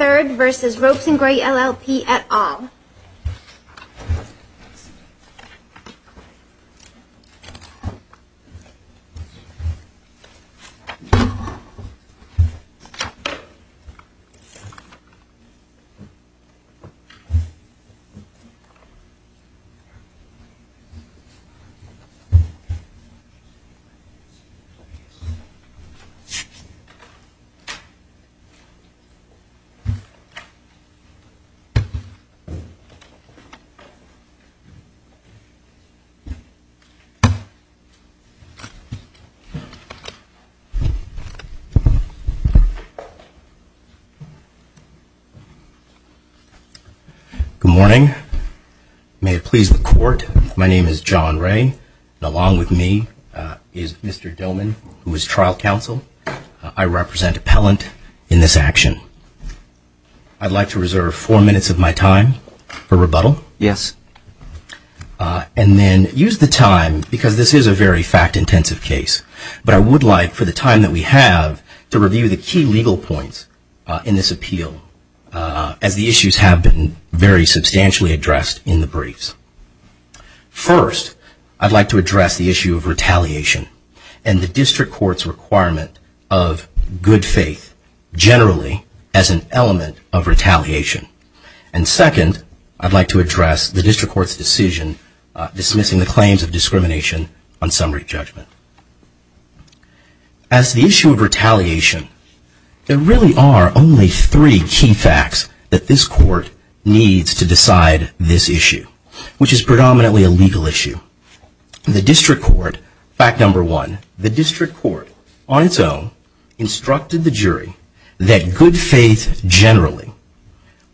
at all. Good morning. May it please the court, my name is John Ray, and along with me is Mr. Doman, who is trial counsel. I represent appellant in this action. I'd like to reserve four minutes of my time for rebuttal. Yes. And then use the time, because this is a very fact-intensive case, but I would like for the time that we have to review the key legal points in this appeal as the issues have been very substantially addressed in the briefs. First, I'd like to address the District Court's requirement of good faith generally as an element of retaliation. And second, I'd like to address the District Court's decision dismissing the claims of discrimination on summary judgment. As to the issue of retaliation, there really are only three key facts that this Court needs to decide this issue, which is predominantly a legal issue. The District Court, fact number one, the District Court on its own instructed the jury that good faith generally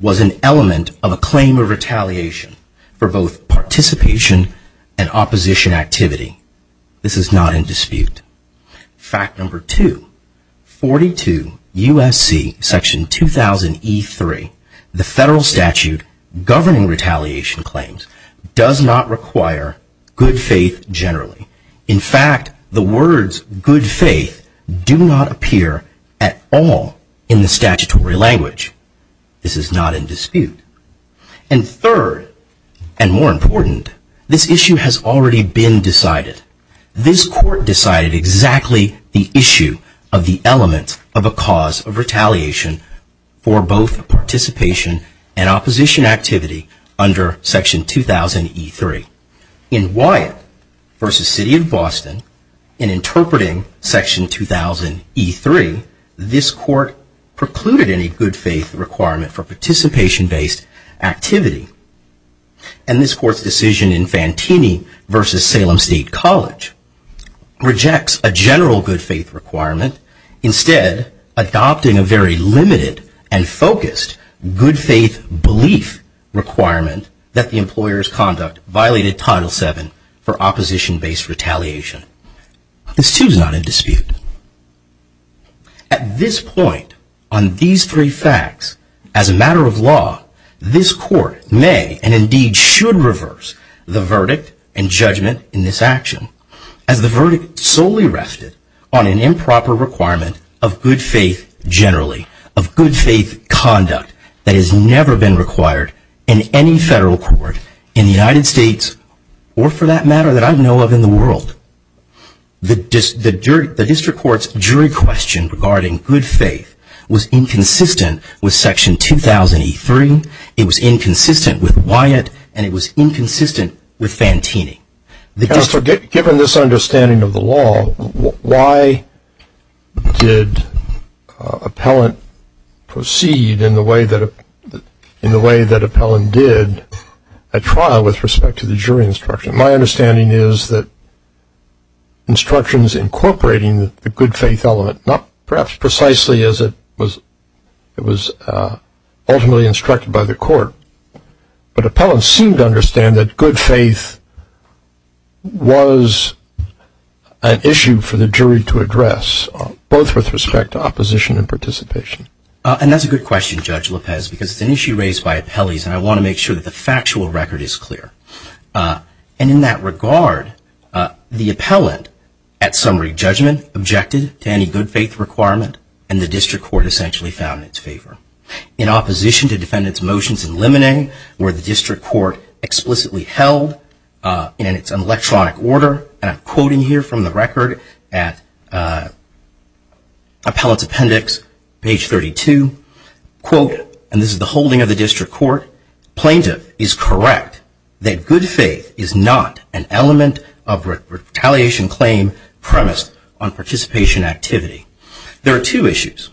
was an element of a claim of retaliation for both participation and opposition activity. This is not in dispute. Fact number two, 42 U.S.C. Section 2000E3, the federal statute governing retaliation claims, does not require good faith generally. In fact, the words good faith do not appear at all in the statutory language. This is not in dispute. And third, and more important, this issue has already been decided. This Court decided exactly the issue of the element of a cause of retaliation for both participation and opposition activity under Section 2000E3. In Wyatt v. City of Boston, in interpreting Section 2000E3, this Court precluded any good faith requirement for participation-based activity. And this Court's decision in Fantini v. Salem State College rejects a general good faith requirement, instead adopting a very limited and focused good faith belief requirement that the employer's conduct violated Title VII for opposition-based retaliation. This Court may and indeed should reverse the verdict and judgment in this action, as the verdict solely rested on an improper requirement of good faith generally, of good faith conduct that has never been required in any federal court in the United States, or for that matter that I know of in the world. The District Court's jury question regarding good faith was inconsistent with Section 2000E3, it was inconsistent with Wyatt, and it was inconsistent with Fantini. Given this understanding of the law, why did Appellant proceed in the way that Appellant did a trial with respect to the jury instruction? My understanding is that instructions incorporating the good faith element, not perhaps precisely as it was ultimately instructed by the Court, but Appellant seemed to understand that good faith was an issue for the jury to address, both with respect to opposition and participation. And that's a good question, Judge Lopez, because it's an issue raised by appellees, and I want to make sure that the factual record is clear. And in that regard, the Appellant, at summary judgment, objected to any good faith requirement, and the District Court essentially found in its favor. In opposition to Defendant's motions in Limine, where the District Court explicitly held in its electronic order, and I'm quoting here from the record at Appellant's appendix, page 32, quote, and this is the holding of the District Court, plaintiff is correct that good faith is not an element of retaliation claim premised on participation activity. There are two issues.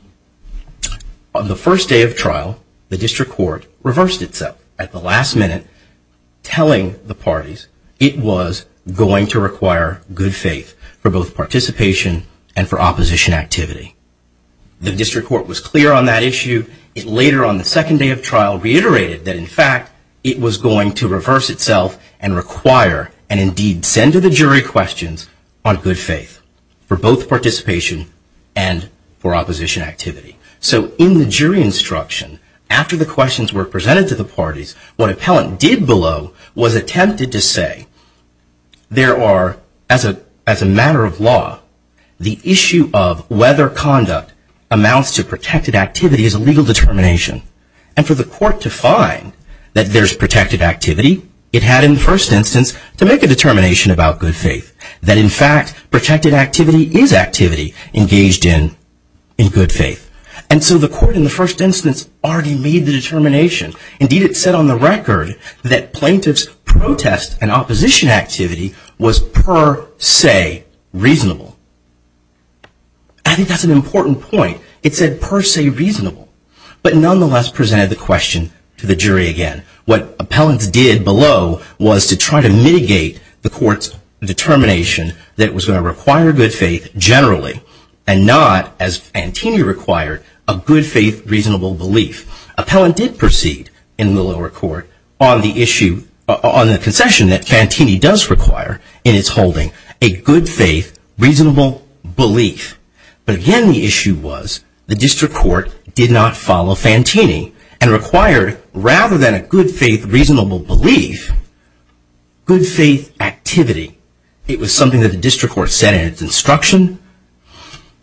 On the first day of trial, the District Court reversed itself at the last minute, telling the parties it was going to require good faith for both participation and for opposition activity. The District Court was clear on that issue. It later on the second day of trial reiterated that in fact it was going to reverse itself and require, and indeed send to the jury questions on good faith for both participation and for opposition activity. So in the jury instruction, after the questions were presented to the parties, what Appellant did below was attempted to say, there are, as a matter of law, the issue of whether conduct amounts to protected activity is a legal determination. And for the court to find that there's protected activity, it had in the first instance to make a determination about good faith, that in fact protected activity is activity engaged in in good faith. And so the court in the first instance already made the determination. Indeed, it said on the record that plaintiff's protest and opposition activity was per se reasonable. I think that's an important point. It said per se reasonable, but nonetheless presented the question to the jury again. What Appellant did below was to try to mitigate the court's determination that it was going to require good faith generally and not, as Fantini required, a good faith reasonable belief. Appellant did proceed in the lower court on the issue, on the concession that Fantini does require in its holding, a good faith reasonable belief. But again, the issue was the district court did not follow Fantini and required, rather than a good faith reasonable belief, good faith activity. It was something that the district court said in its instruction.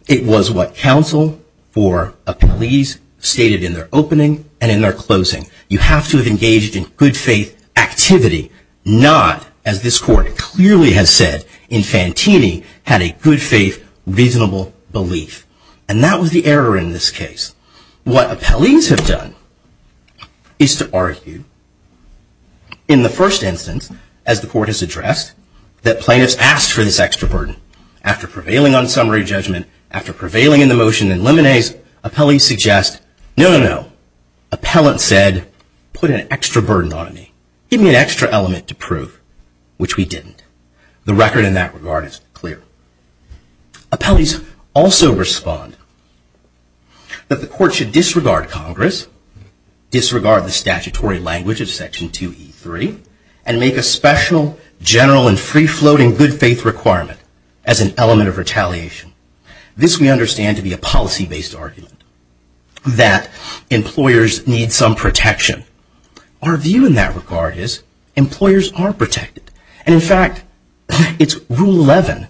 It was what counsel for appellees stated in their opening and in their closing. You have engaged in good faith activity, not, as this court clearly has said in Fantini, had a good faith reasonable belief. And that was the error in this case. What appellees have done is to argue in the first instance, as the court has addressed, that plaintiffs asked for this extra burden. After prevailing on summary judgment, after putting an extra burden on me, giving me an extra element to prove, which we didn't. The record in that regard is clear. Appellees also respond that the court should disregard Congress, disregard the statutory language of Section 2E3, and make a special general and free-floating good faith requirement as an element of retaliation. This we understand to be a policy-based argument, that employers need some protection. Our view in that regard is employers are protected. And in fact, it's Rule 11.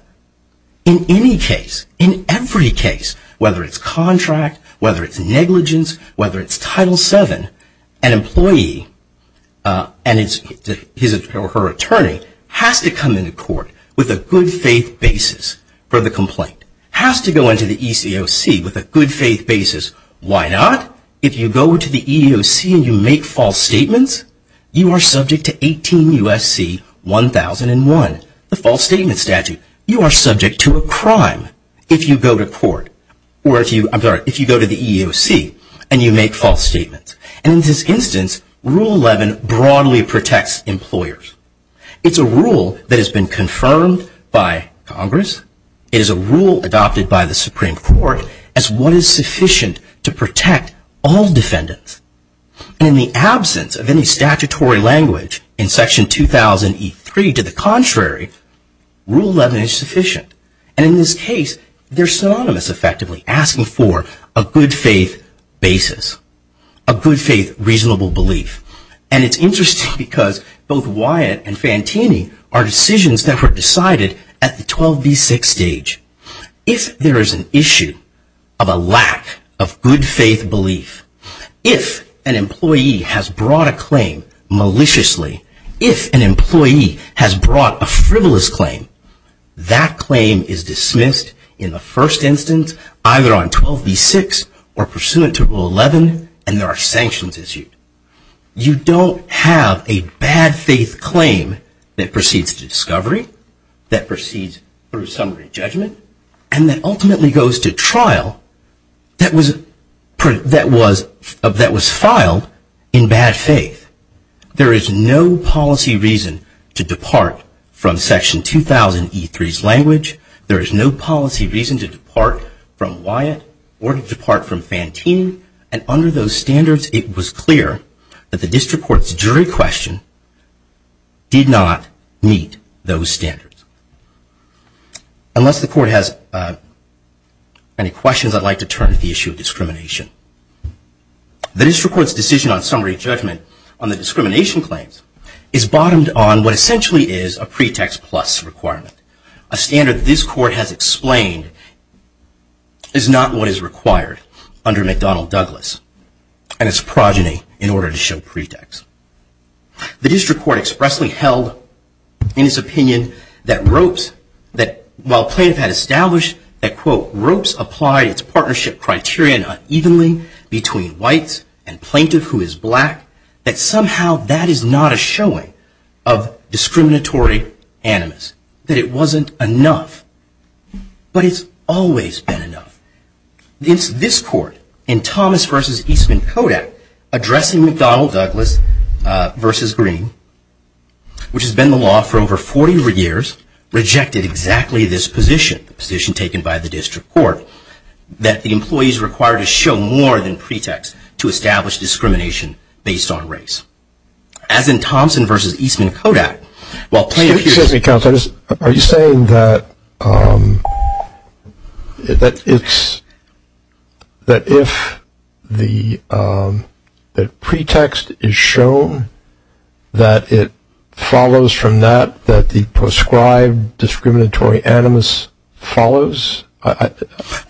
In any case, in every case, whether it's contract, whether it's negligence, whether it's Title VII, an employee and his or her attorney has to come into court with a good faith basis for the complaint. Has to go into the ECOC with a good faith basis. Why not? If you go to the EEOC and you make false statements, you are subject to 18 U.S.C. 1001, the false statement statute. You are subject to a crime if you go to the EEOC and you make false statements. And in this instance, Rule 11 broadly protects employers. It's a rule that has been confirmed by Congress. It is a rule adopted by the Supreme Court as what is sufficient to protect all defendants. And in the absence of any statutory language in Section 2000E3 to the contrary, Rule 11 is sufficient. And in this case, they're synonymous effectively, asking for a good faith basis, a good faith reasonable belief. And it's interesting because both Wyatt and Fantini are decisions that were decided at the 12B6 stage. If there is an issue of a lack of good faith belief, if an employee has brought a claim maliciously, if an employee has brought a frivolous claim, that claim is dismissed in the first instance, either on 12B6 or pursuant to Rule 11, and there are sanctions issued, you don't have a bad faith claim that proceeds to discovery, that proceeds through summary judgment, and that ultimately goes to trial that was filed in bad faith. There is no policy reason to depart from Section 2000E3's language. There is no policy reason to depart from Wyatt or to depart from Fantini. And under those standards, it was clear that the district court's jury question did not meet those standards. Unless the court has any questions, I'd like to turn to the issue of discrimination. The district court's decision on summary judgment on the discrimination claims is bottomed on what essentially is a pretext plus requirement. A standard this court has explained is not what is required under McDonnell-Douglas and its progeny in order to show pretext. The district court expressly held in its opinion that while plaintiff had established that ropes applied its partnership criterion unevenly between whites and plaintiff who is black, that somehow that is not a showing of discriminatory animus, that it wasn't enough. But it's always been enough. It's this court in Thomas v. Eastman Kodak addressing McDonnell-Douglas v. Green, which has been the law for over 40 years, rejected exactly this position, the position taken by the district court, that the employees are required to show more than pretext to be based on race. As in Thomson v. Eastman Kodak, while plaintiff uses... Excuse me, Counselor. Are you saying that if the pretext is shown that it follows from that, that the prescribed discriminatory animus follows?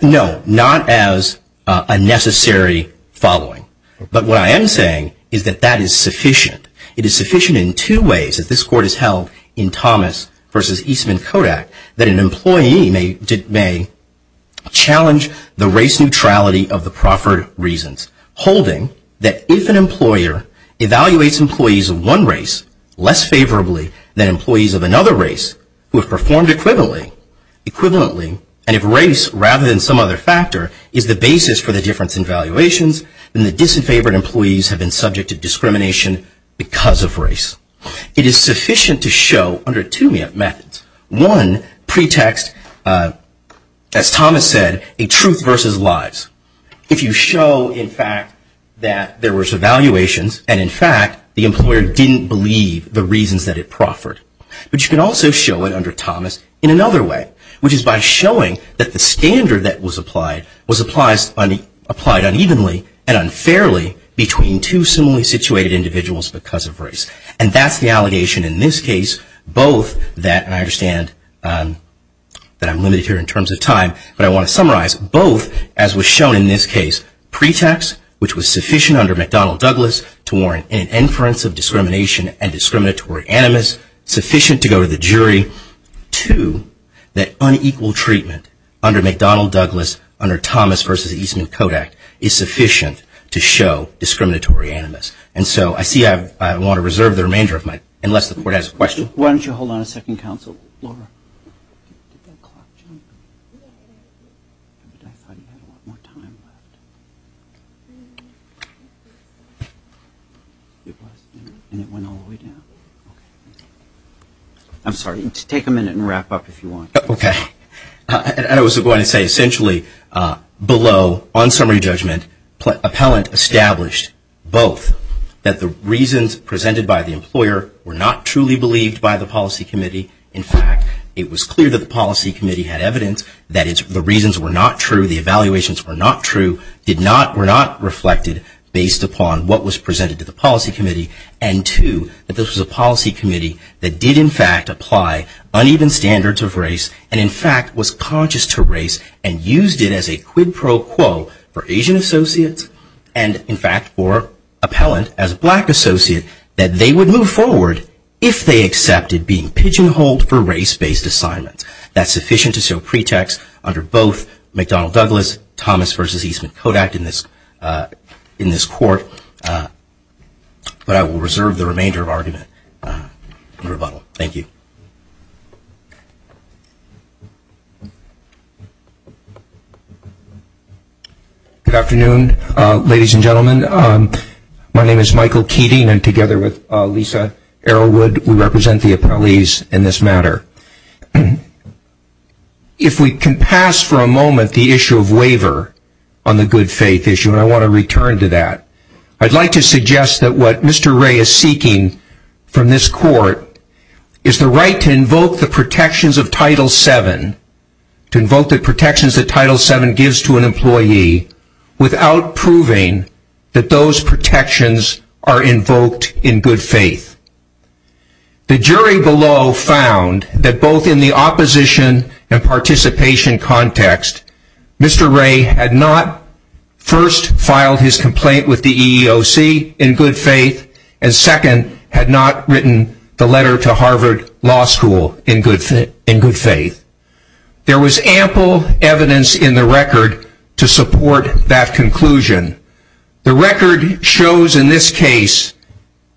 No, not as a necessary following. But what I am saying is that that is sufficient. It is sufficient in two ways, as this court has held in Thomas v. Eastman Kodak, that an employee challenge the race neutrality of the proffered reasons, holding that if an employer evaluates employees of one race less favorably than employees of another race who have performed equivalently, and if race, rather than some other factor, is the basis for the difference in valuations, then the disenfavored employees have been subject to discrimination because of race. It is sufficient to show, under two methods, one pretext, as Thomas said, a truth versus lies. If you show, in fact, that there was evaluations, and in fact, the employer didn't believe the reasons that it proffered, but you can also show it under Thomas in another way, which is by showing that the standard that was applied was applied unevenly and unfairly between two similarly situated individuals because of race. And that's the allegation in this case, both that, and I understand that I'm limited here in terms of time, but I want to summarize, both, as was shown in this case, pretext, which was sufficient under McDonnell-Douglas to warrant an inference of discrimination and discriminatory animus, sufficient to go to the jury, two, that unequal treatment under McDonnell-Douglas, under Thomas versus Eastman-Kodak, is sufficient to show discriminatory animus. And so I see I want to reserve the remainder of my time, unless the court has a question. Why don't you hold on a second, counsel? I'm sorry. Take a minute and wrap up if you want. Okay. And I was going to say, essentially, below, on summary judgment, Appellant established both, that the reasons presented by the employer were not truly believed by the policy committee. In fact, it was clear that the policy committee had evidence that the reasons were not true, the evaluations were not true, were not reflected based upon what was presented to the policy committee. And two, that this was a policy committee that did, in fact, apply uneven standards of race and, in fact, was conscious to race and used it as a quid pro quo for Appellant, as a black associate, that they would move forward if they accepted being pigeonholed for race-based assignments. That's sufficient to show pretext under both McDonnell-Douglas, Thomas versus Eastman-Kodak in this court. But I will reserve the remainder of argument in rebuttal. Thank you. Good afternoon, ladies and gentlemen. My name is Michael Keating, and together with Lisa Arrowood, we represent the appellees in this matter. If we can pass for a moment the issue of waiver on the good faith issue, and I want to return to that, I would like to suggest that what Mr. Ray is seeking from this court is the right to invoke the protections of Title VII, to invoke the protections that Title VII gives to an employee without proving that those protections are invoked in good faith. The jury below found that both in the opposition and participation context, Mr. Ray had not first filed his complaint with the EEOC in good faith, and second, had not written the letter to Harvard Law School in good faith. There was ample evidence in the record to support that conclusion. The record shows in this case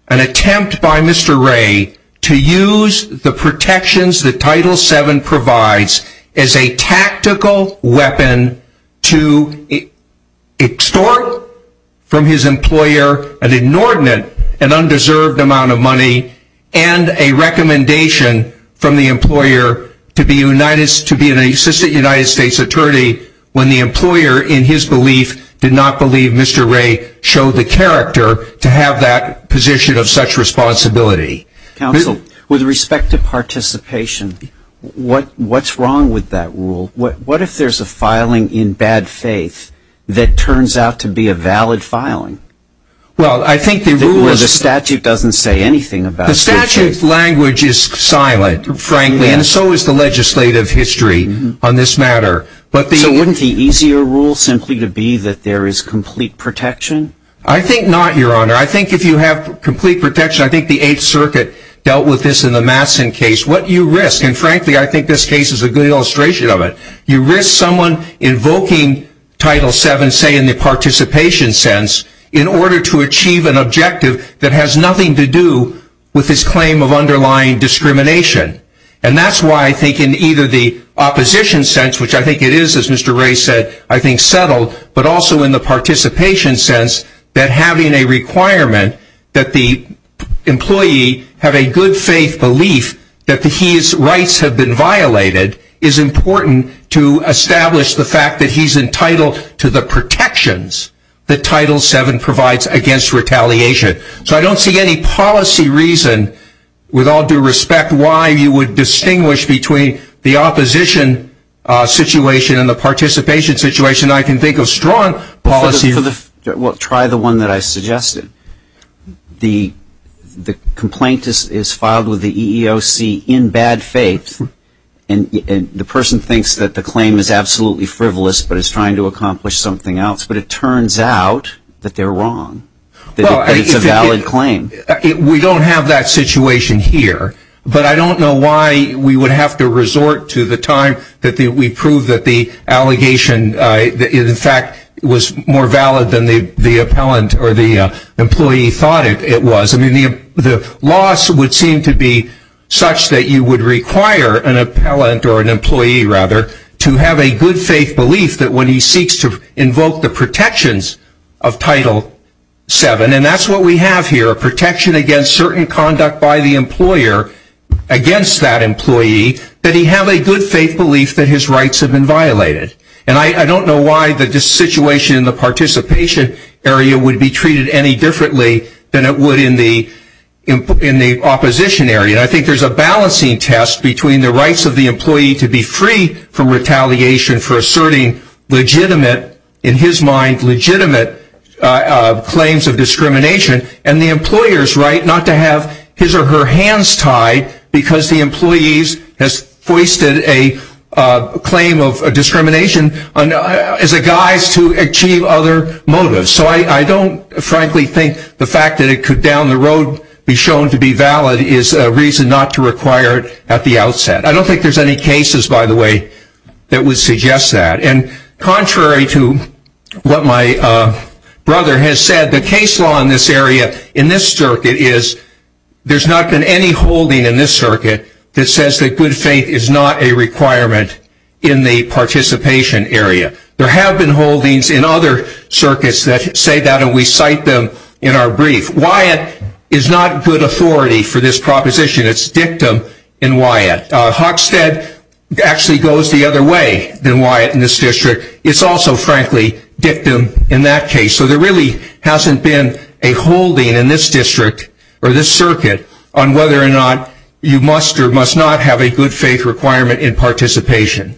an attempt by Mr. Ray to use the protections that Title VII provides as a tactical weapon to extort from his employer an inordinate and undeserved amount of money, and a recommendation from the employer to be an assistant United States attorney when the employer, in his belief, did not believe Mr. Ray showed the character to have that position of such responsibility. Counsel, with respect to participation, what's wrong with that rule? What if there's a filing in bad faith that turns out to be a valid filing? Well I think the rule is Where the statute doesn't say anything about The statute language is silent, frankly, and so is the legislative history on this matter. So wouldn't the easier rule simply to be that there is complete protection? I think not, Your Honor. I think if you have complete protection, I think the Eighth Circuit dealt with this in the Matson case. What you risk, and frankly I think this case is a good illustration of it, you risk someone invoking Title VII, say in the participation sense, in order to achieve an objective that has nothing to do with his claim of underlying discrimination. And that's why I think in either the opposition sense, which I think it is, as Mr. Ray said, I think settled, but also in the participation sense that having a requirement that the employee have a good faith belief that his rights have been violated is important to establish the fact that he's entitled to the protections that Title VII provides against retaliation. So I don't see any policy reason, with all due respect, why you would distinguish between the opposition situation and the participation situation. I can think of strong policies. Well, try the one that I suggested. The complaint is filed with the EEOC in bad faith, and the person thinks that the claim is absolutely frivolous but is trying to accomplish something else, but it turns out that they're wrong. It's a valid claim. We don't have that situation here, but I don't know why we would have to resort to the time that we proved that the allegation, in fact, was more valid than the appellant or the employee thought it was. I mean, the loss would seem to be such that you would require an appellant or an employee, rather, to have a good faith belief that when he seeks to invoke the protections of Title VII, and that's what we have here, a protection against certain conduct by the employer against that employee, that he have a good faith belief that his rights have been violated. And I don't know why the situation in the participation area would be treated any differently than it would in the opposition area. And I think there's a balancing test between the rights of the employee to be free from retaliation for asserting legitimate, in his mind legitimate, claims of discrimination and the employer's right not to have his or her hands tied because the employee has foisted a claim of discrimination as a guise to achieve other motives. So I don't frankly think the fact that it could down the road be shown to be valid is a reason not to require it at the outset. I don't think there's any cases, by the way, that would suggest that. And contrary to what my brother has said, the case law in this area in this circuit is there's not been any holding in this circuit that says that good faith is not a requirement in the participation area. There have been holdings in other circuits that say that and we cite them in our brief. Wyatt is not good authority for this proposition. It's dictum in Wyatt. Hockstead actually goes the other way than Wyatt in this district. It's also frankly dictum in that case. So there really hasn't been a holding in this district or this circuit on whether or not you must or must not have a good faith requirement in participation.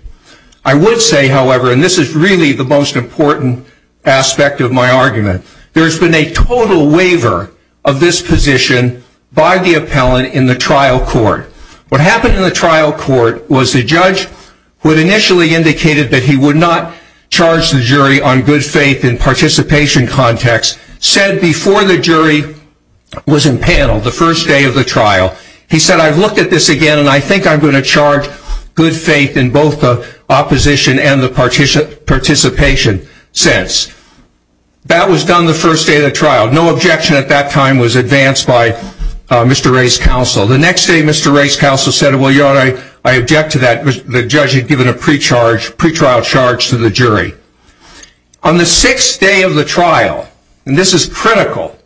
I would say, however, and this is really the most important aspect of my argument, there's been a total waiver of this position by the appellant in the trial court. What happened in the trial court was the judge who had initially indicated that he would not charge the jury on good faith in participation context said before the jury was in panel the first day of the trial, he said, I've looked at this since. That was done the first day of the trial. No objection at that time was advanced by Mr. Ray's counsel. The next day Mr. Ray's counsel said, well, you know what, I object to that. The judge had given a pre-trial charge to the jury. On the sixth day of the trial, and this is critical,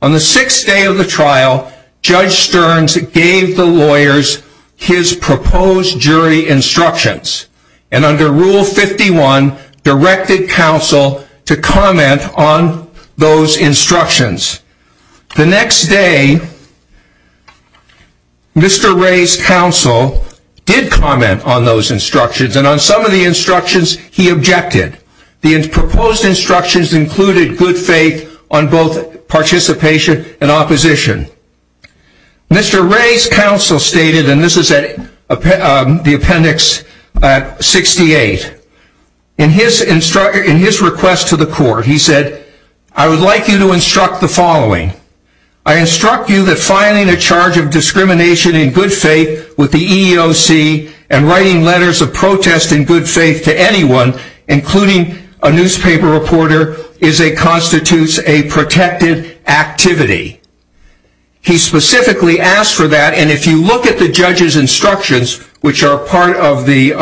on the sixth day of the trial, Judge Stearns gave the lawyers his proposed jury instructions and under rule 51 directed counsel to comment on those instructions. The next day, Mr. Ray's counsel did comment on those instructions and on some of the instructions he objected. The proposed instructions included good faith on both participation and opposition. Mr. Ray's counsel stated, and this is the appendix 68, in his request to the court, he said, I would like you to instruct the following. I instruct you that filing a charge of discrimination in good faith with the EEOC and writing letters of protest in good faith to anyone, including a newspaper reporter, constitutes a protected activity. The judge specifically asked for that and if you look at the judge's instructions, which are part of the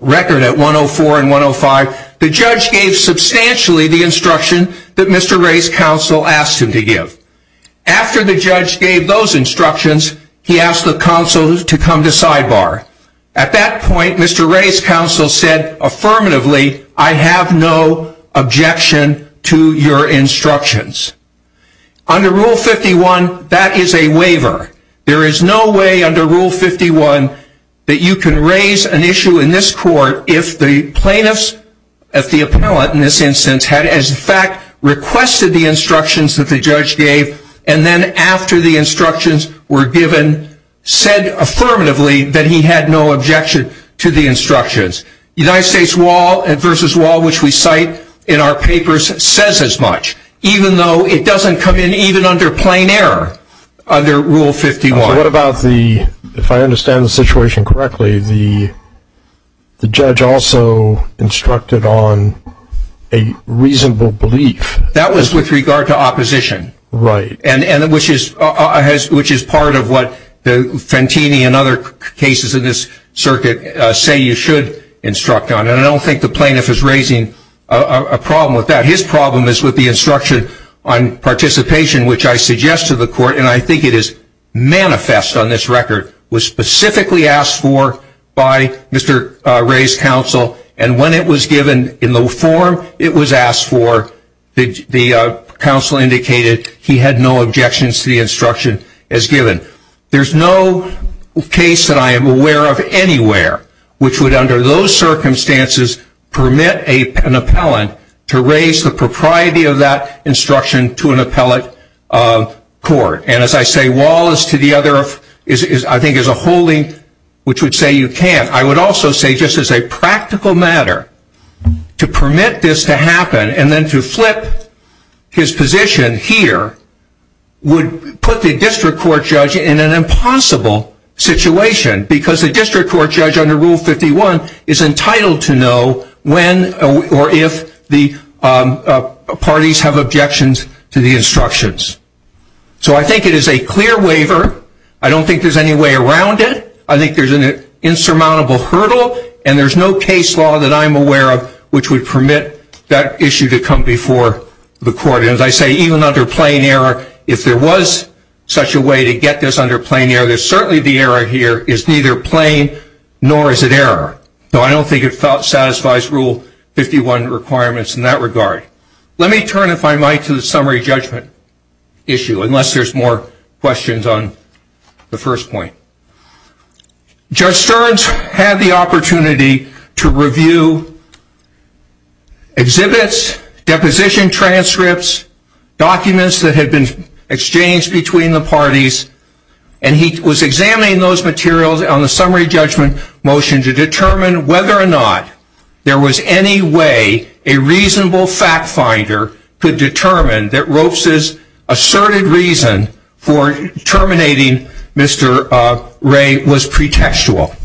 record at 104 and 105, the judge gave substantially the instruction that Mr. Ray's counsel asked him to give. After the judge gave those instructions, he asked the counsel to come to sidebar. At that point, Mr. Ray's counsel said affirmatively, I have no objection to your instructions. Under rule 51, that is a waiver. There is no way under rule 51 that you can raise an issue in this court if the plaintiffs, if the appellant in this instance had in fact requested the instructions that the judge gave and then after the instructions were given, said affirmatively that he had no objection to the instructions. United States law which we cite in our papers says as much, even though it doesn't come in even under plain error under rule 51. So what about the, if I understand the situation correctly, the judge also instructed on a reasonable belief. That was with regard to opposition. Right. Which is part of what the Fantini and other cases in this circuit say you should instruct on and I don't think the plaintiff is raising a problem with that. His problem is with the instruction on participation which I suggest to the court and I think it is manifest on this record, was specifically asked for by Mr. Ray's counsel and when it was given in the form it was asked for, the counsel indicated he had no objections to the instruction as circumstances permit an appellant to raise the propriety of that instruction to an appellate court and as I say Wallace to the other, I think is a holding which would say you can't. I would also say just as a practical matter, to permit this to happen and then to flip his position here would put the district court judge in an impossible situation because the district court judge is unable to know when or if the parties have objections to the instructions. So I think it is a clear waiver. I don't think there is any way around it. I think there is an insurmountable hurdle and there is no case law that I am aware of which would permit that issue to come before the court and as I say even under plain error, if there was such a way to get this under plain error, certainly the error here is neither plain nor is it error. So I don't think it satisfies rule 51 requirements in that regard. Let me turn if I might to the summary judgment issue unless there are more questions on the first point. Judge Stearns had the opportunity to review exhibits, deposition transcripts, documents that had been exchanged between the parties and he was examining those materials on the summary judgment motion to determine whether or not there was any way a reasonable fact finder could determine that Ropes' asserted reason for terminating Mr. Ray was pretextual.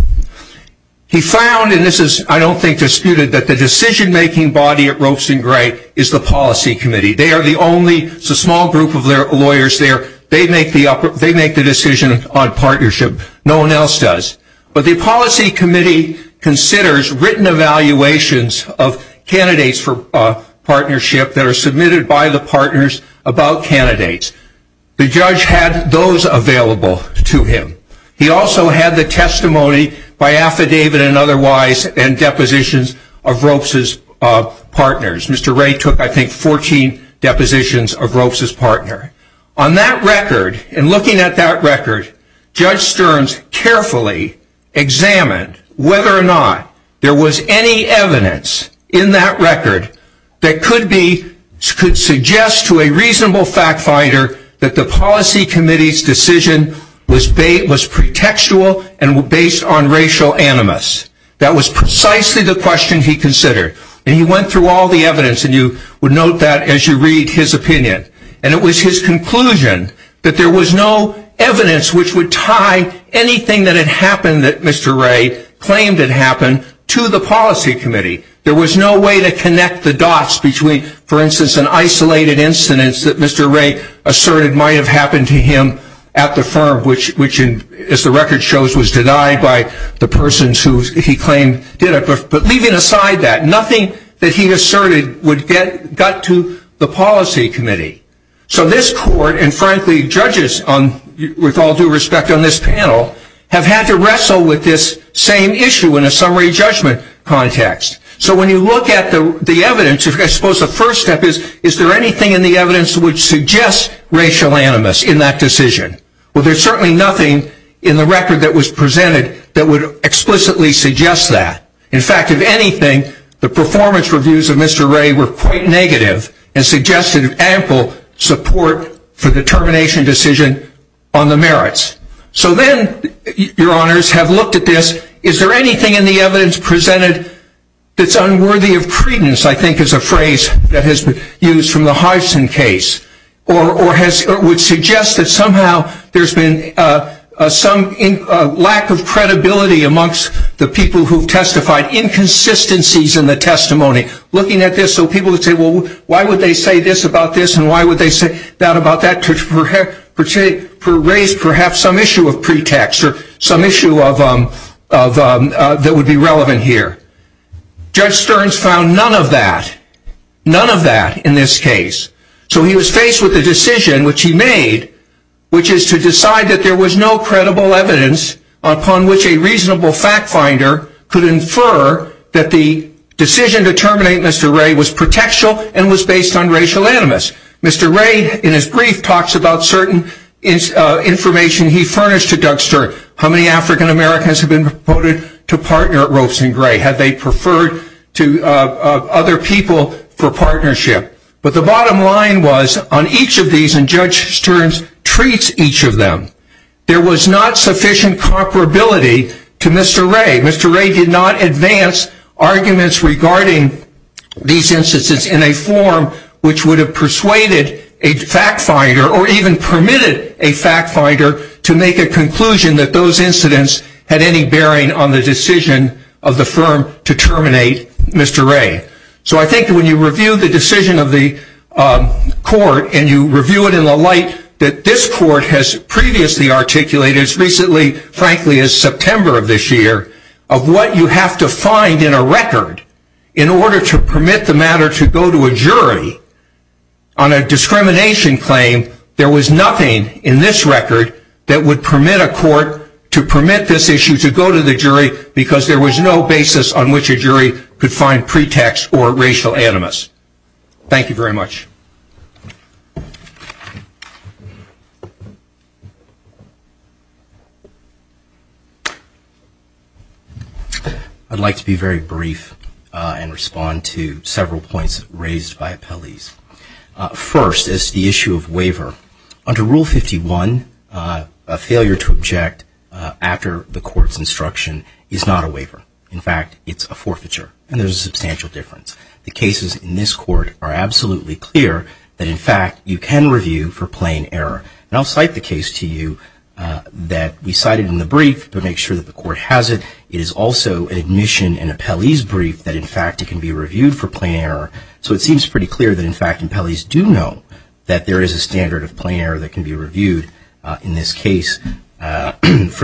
He found, and this is I don't think disputed, that the decision making body at Ropes & Gray is the policy committee. They are the only small group of lawyers there. They make the decision on partnership. No one else does. But the policy committee considers written evaluations of candidates for partnership that are submitted by the partners about candidates. The judge had those available to him. He also had the testimony by affidavit and otherwise and depositions of Ropes' partners. Mr. Ray took I think 14 depositions of Ropes' partner. On that record and looking at that record, Judge Stearns carefully examined whether or not there was any evidence in that record that could suggest to a reasonable fact finder that the policy committee's decision was pretextual and based on racial animus. That was precisely the question he considered. He went through all the evidence and you would note that as you read his opinion. And it was his conclusion that there was no evidence which would tie anything that had happened that Mr. Ray claimed had happened to the policy committee. There was no way to connect the dots between, for instance, an isolated incidence that Mr. Ray asserted might have happened to him at the firm, which as the record shows was denied by the persons who he claimed did it. But leaving aside that, nothing that he asserted would get to the policy committee. So this court and frankly judges with all due respect on this panel have had to wrestle with this same issue in a summary judgment context. So when you look at the evidence, I suppose the first step is, is there anything in the evidence which suggests racial animus in that decision? Well, there is certainly nothing in the record that was presented that would explicitly suggest that. In fact, if anything, the performance reviews of Mr. Ray were quite negative and suggested ample support for the termination decision on the merits. So then your honors have looked at this. Is there anything in the evidence presented that's unworthy of credence, I think is a phrase that has been used from the Hodgson case, or would suggest that somehow there's been some lack of credibility amongst the people who testified, inconsistencies in the testimony. Looking at this, so people would say, well, why would they say this about this and why would they say that about that, to raise perhaps some issue of pretext or some issue that would be relevant here. Judge Stearns found none of that, none of that in this case. So he was faced with a decision which he made, which is to decide that there was no credible evidence upon which a reasonable fact finder could infer that the decision to terminate Mr. Ray was pretextual and was based on racial animus. Mr. Ray, in his brief, talks about certain information he furnished to Doug Stearns. How many African Americans have been proposed to partner at Ropes and Gray? Have they preferred to other people for partnership? But the bottom line was on each of these, and Judge Stearns treats each of them, there was not sufficient comparability to Mr. Ray. Mr. Ray did not advance arguments regarding these instances in a form which would have persuaded a fact finder or even permitted a fact finder to make a conclusion that those incidents had any bearing on the decision of the firm to terminate Mr. Ray. So if you look at this court, and you review it in the light that this court has previously articulated, as recently, frankly, as September of this year, of what you have to find in a record in order to permit the matter to go to a jury on a discrimination claim, there was nothing in this record that would permit a court to permit this issue to go to the jury because there was no basis on which a jury could find pretext or racial animus. Thank you very much. I'd like to be very brief and respond to several points raised by appellees. First, as to the issue of waiver, under Rule 51, a failure to object after the court's instruction is not a waiver. In fact, it's a forfeiture, and there's a substantial difference. The cases in this court are absolutely clear that a waiver is not a waiver. In fact, you can review for plain error. And I'll cite the case to you that we cited in the brief to make sure that the court has it. It is also an admission in an appellee's brief that, in fact, it can be reviewed for plain error. So it seems pretty clear that, in fact, appellees do know that there is a standard of plain error that can be reviewed in this case for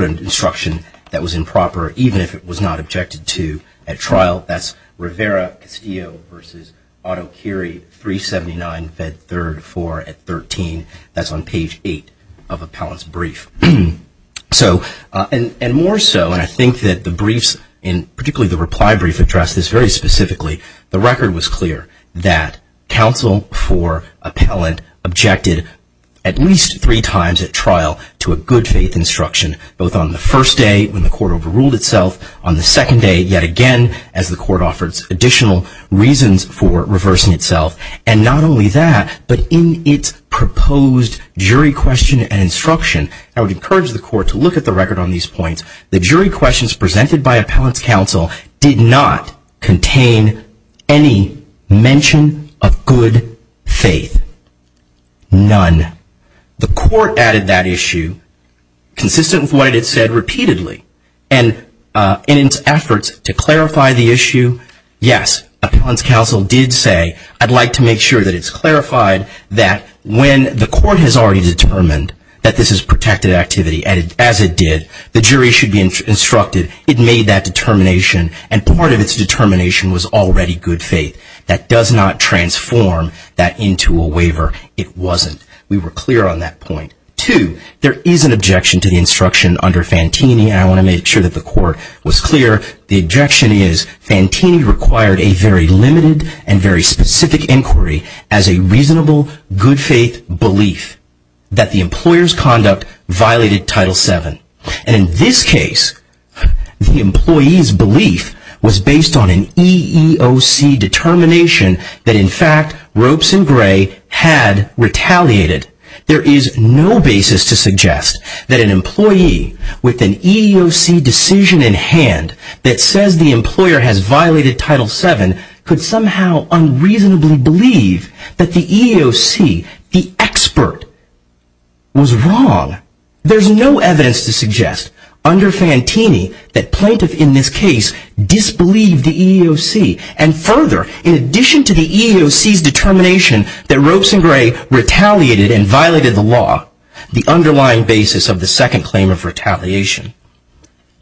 an instruction that was improper, even if it was not objected to at trial. That's Rivera-Castillo v. Otokiri, 379 Fed 3rd 4 at 13. That's on page 8 of appellant's brief. And more so, and I think that the briefs, particularly the reply brief, address this very specifically, the record was clear that counsel for appellant objected at least three times at trial to a good faith instruction, both on the first day when the court overruled itself, on the second day yet again as the court offers additional reasons for reversing itself. And not only that, but in its proposed jury question and instruction, I would encourage the court to look at the record on these points. The jury questions presented by appellant's counsel did not contain any mention of good faith. None. The court added that issue, consistent with what it had said repeatedly, and in its efforts to clarify the issue, yes, appellant's counsel did say, I'd like to make sure that it's clarified that when the court has already determined that this is protected activity, as it did, the jury should be instructed, it made that determination, and part of its determination was already good faith. That does not transform that into a waiver. It wasn't. We were clear on that point. Two, there is an objection to the instruction under Fantini, and I want to make sure that the court was clear. The objection is Fantini required a very limited and very specific inquiry as a reasonable good faith belief that the employer's conduct violated Title VII. And in this case, the employee's belief was based on an EEOC determination that, in fact, Ropes and Gray had retaliated. There is no basis to suggest that an employee with an EEOC decision in hand that says the employer has violated Title VII could somehow unreasonably believe that the EEOC, the expert, was wrong. There's no evidence to suggest under Fantini that plaintiff in this case disbelieved the EEOC, and further, in addition to the EEOC's determination that Ropes and Gray retaliated and violated the law, the underlying basis of the second claim of retaliation,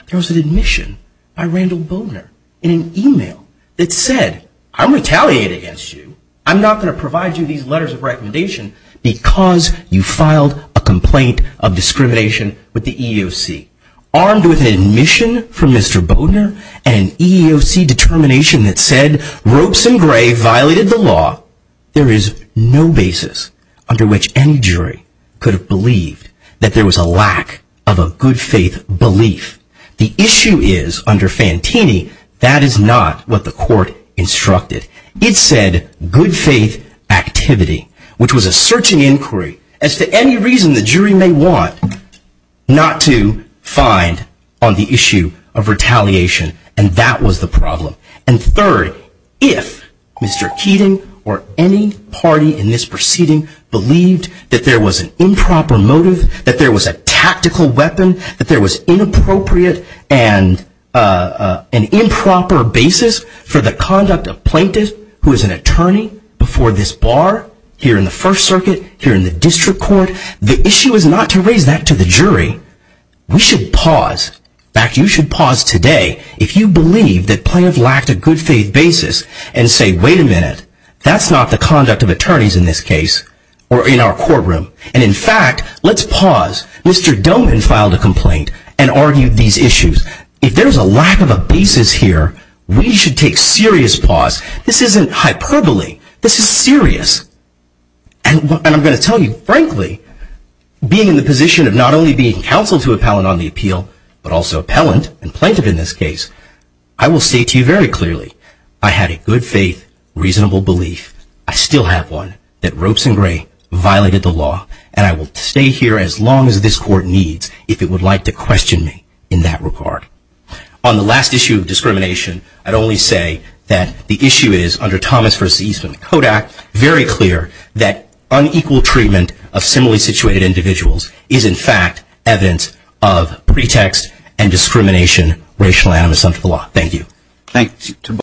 there was an admission by Randall Bodner in an email that said, I'm retaliating against you. I'm not going to provide you these letters of recommendation because you filed a complaint of discrimination with the EEOC. Armed with an admission from Mr. Bodner and an EEOC determination that said Ropes and Gray violated the law, there is no basis under which any jury could have believed that there was a lack of a good faith belief. The issue is, under Fantini, that is not what the court instructed. It said good faith activity, which was a searching inquiry as to any reason the jury may want not to find on the issue of retaliation, and that was the problem. And third, if Mr. Keating or any party in this proceeding believed that there was an improper motive, that there was a tactical weapon, that there was inappropriate and an improper basis for the conduct of a plaintiff who is an attorney before this bar here in the First Circuit, here in the district court, the issue is not to raise that to the jury. We should pause. In fact, you should pause today if you believe that plaintiffs lacked a good faith basis and say, wait a minute, that's not the conduct of attorneys in this case or in our courtroom. And in fact, let's pause. Mr. Doman filed a complaint and argued these issues. If there's a lack of a basis here, we should take serious pause. This isn't hyperbole. This is serious. And I'm going to tell you, frankly, being in the position of not only being counsel to appellant on the appeal, but also appellant and plaintiff in this case, I will say to you very clearly, I had a good faith, reasonable belief, I still have one, that Ropes and Gray violated the law, and I will stay here as long as this court needs if it would like to question me in that regard. On the last issue of discrimination, I'd only say that the issue is, under Thomas v. Eastman's Code Act, very clear that unequal treatment of similarly situated individuals is, in fact, evidence of pretext and discrimination, racial animus unto the law. Thank you.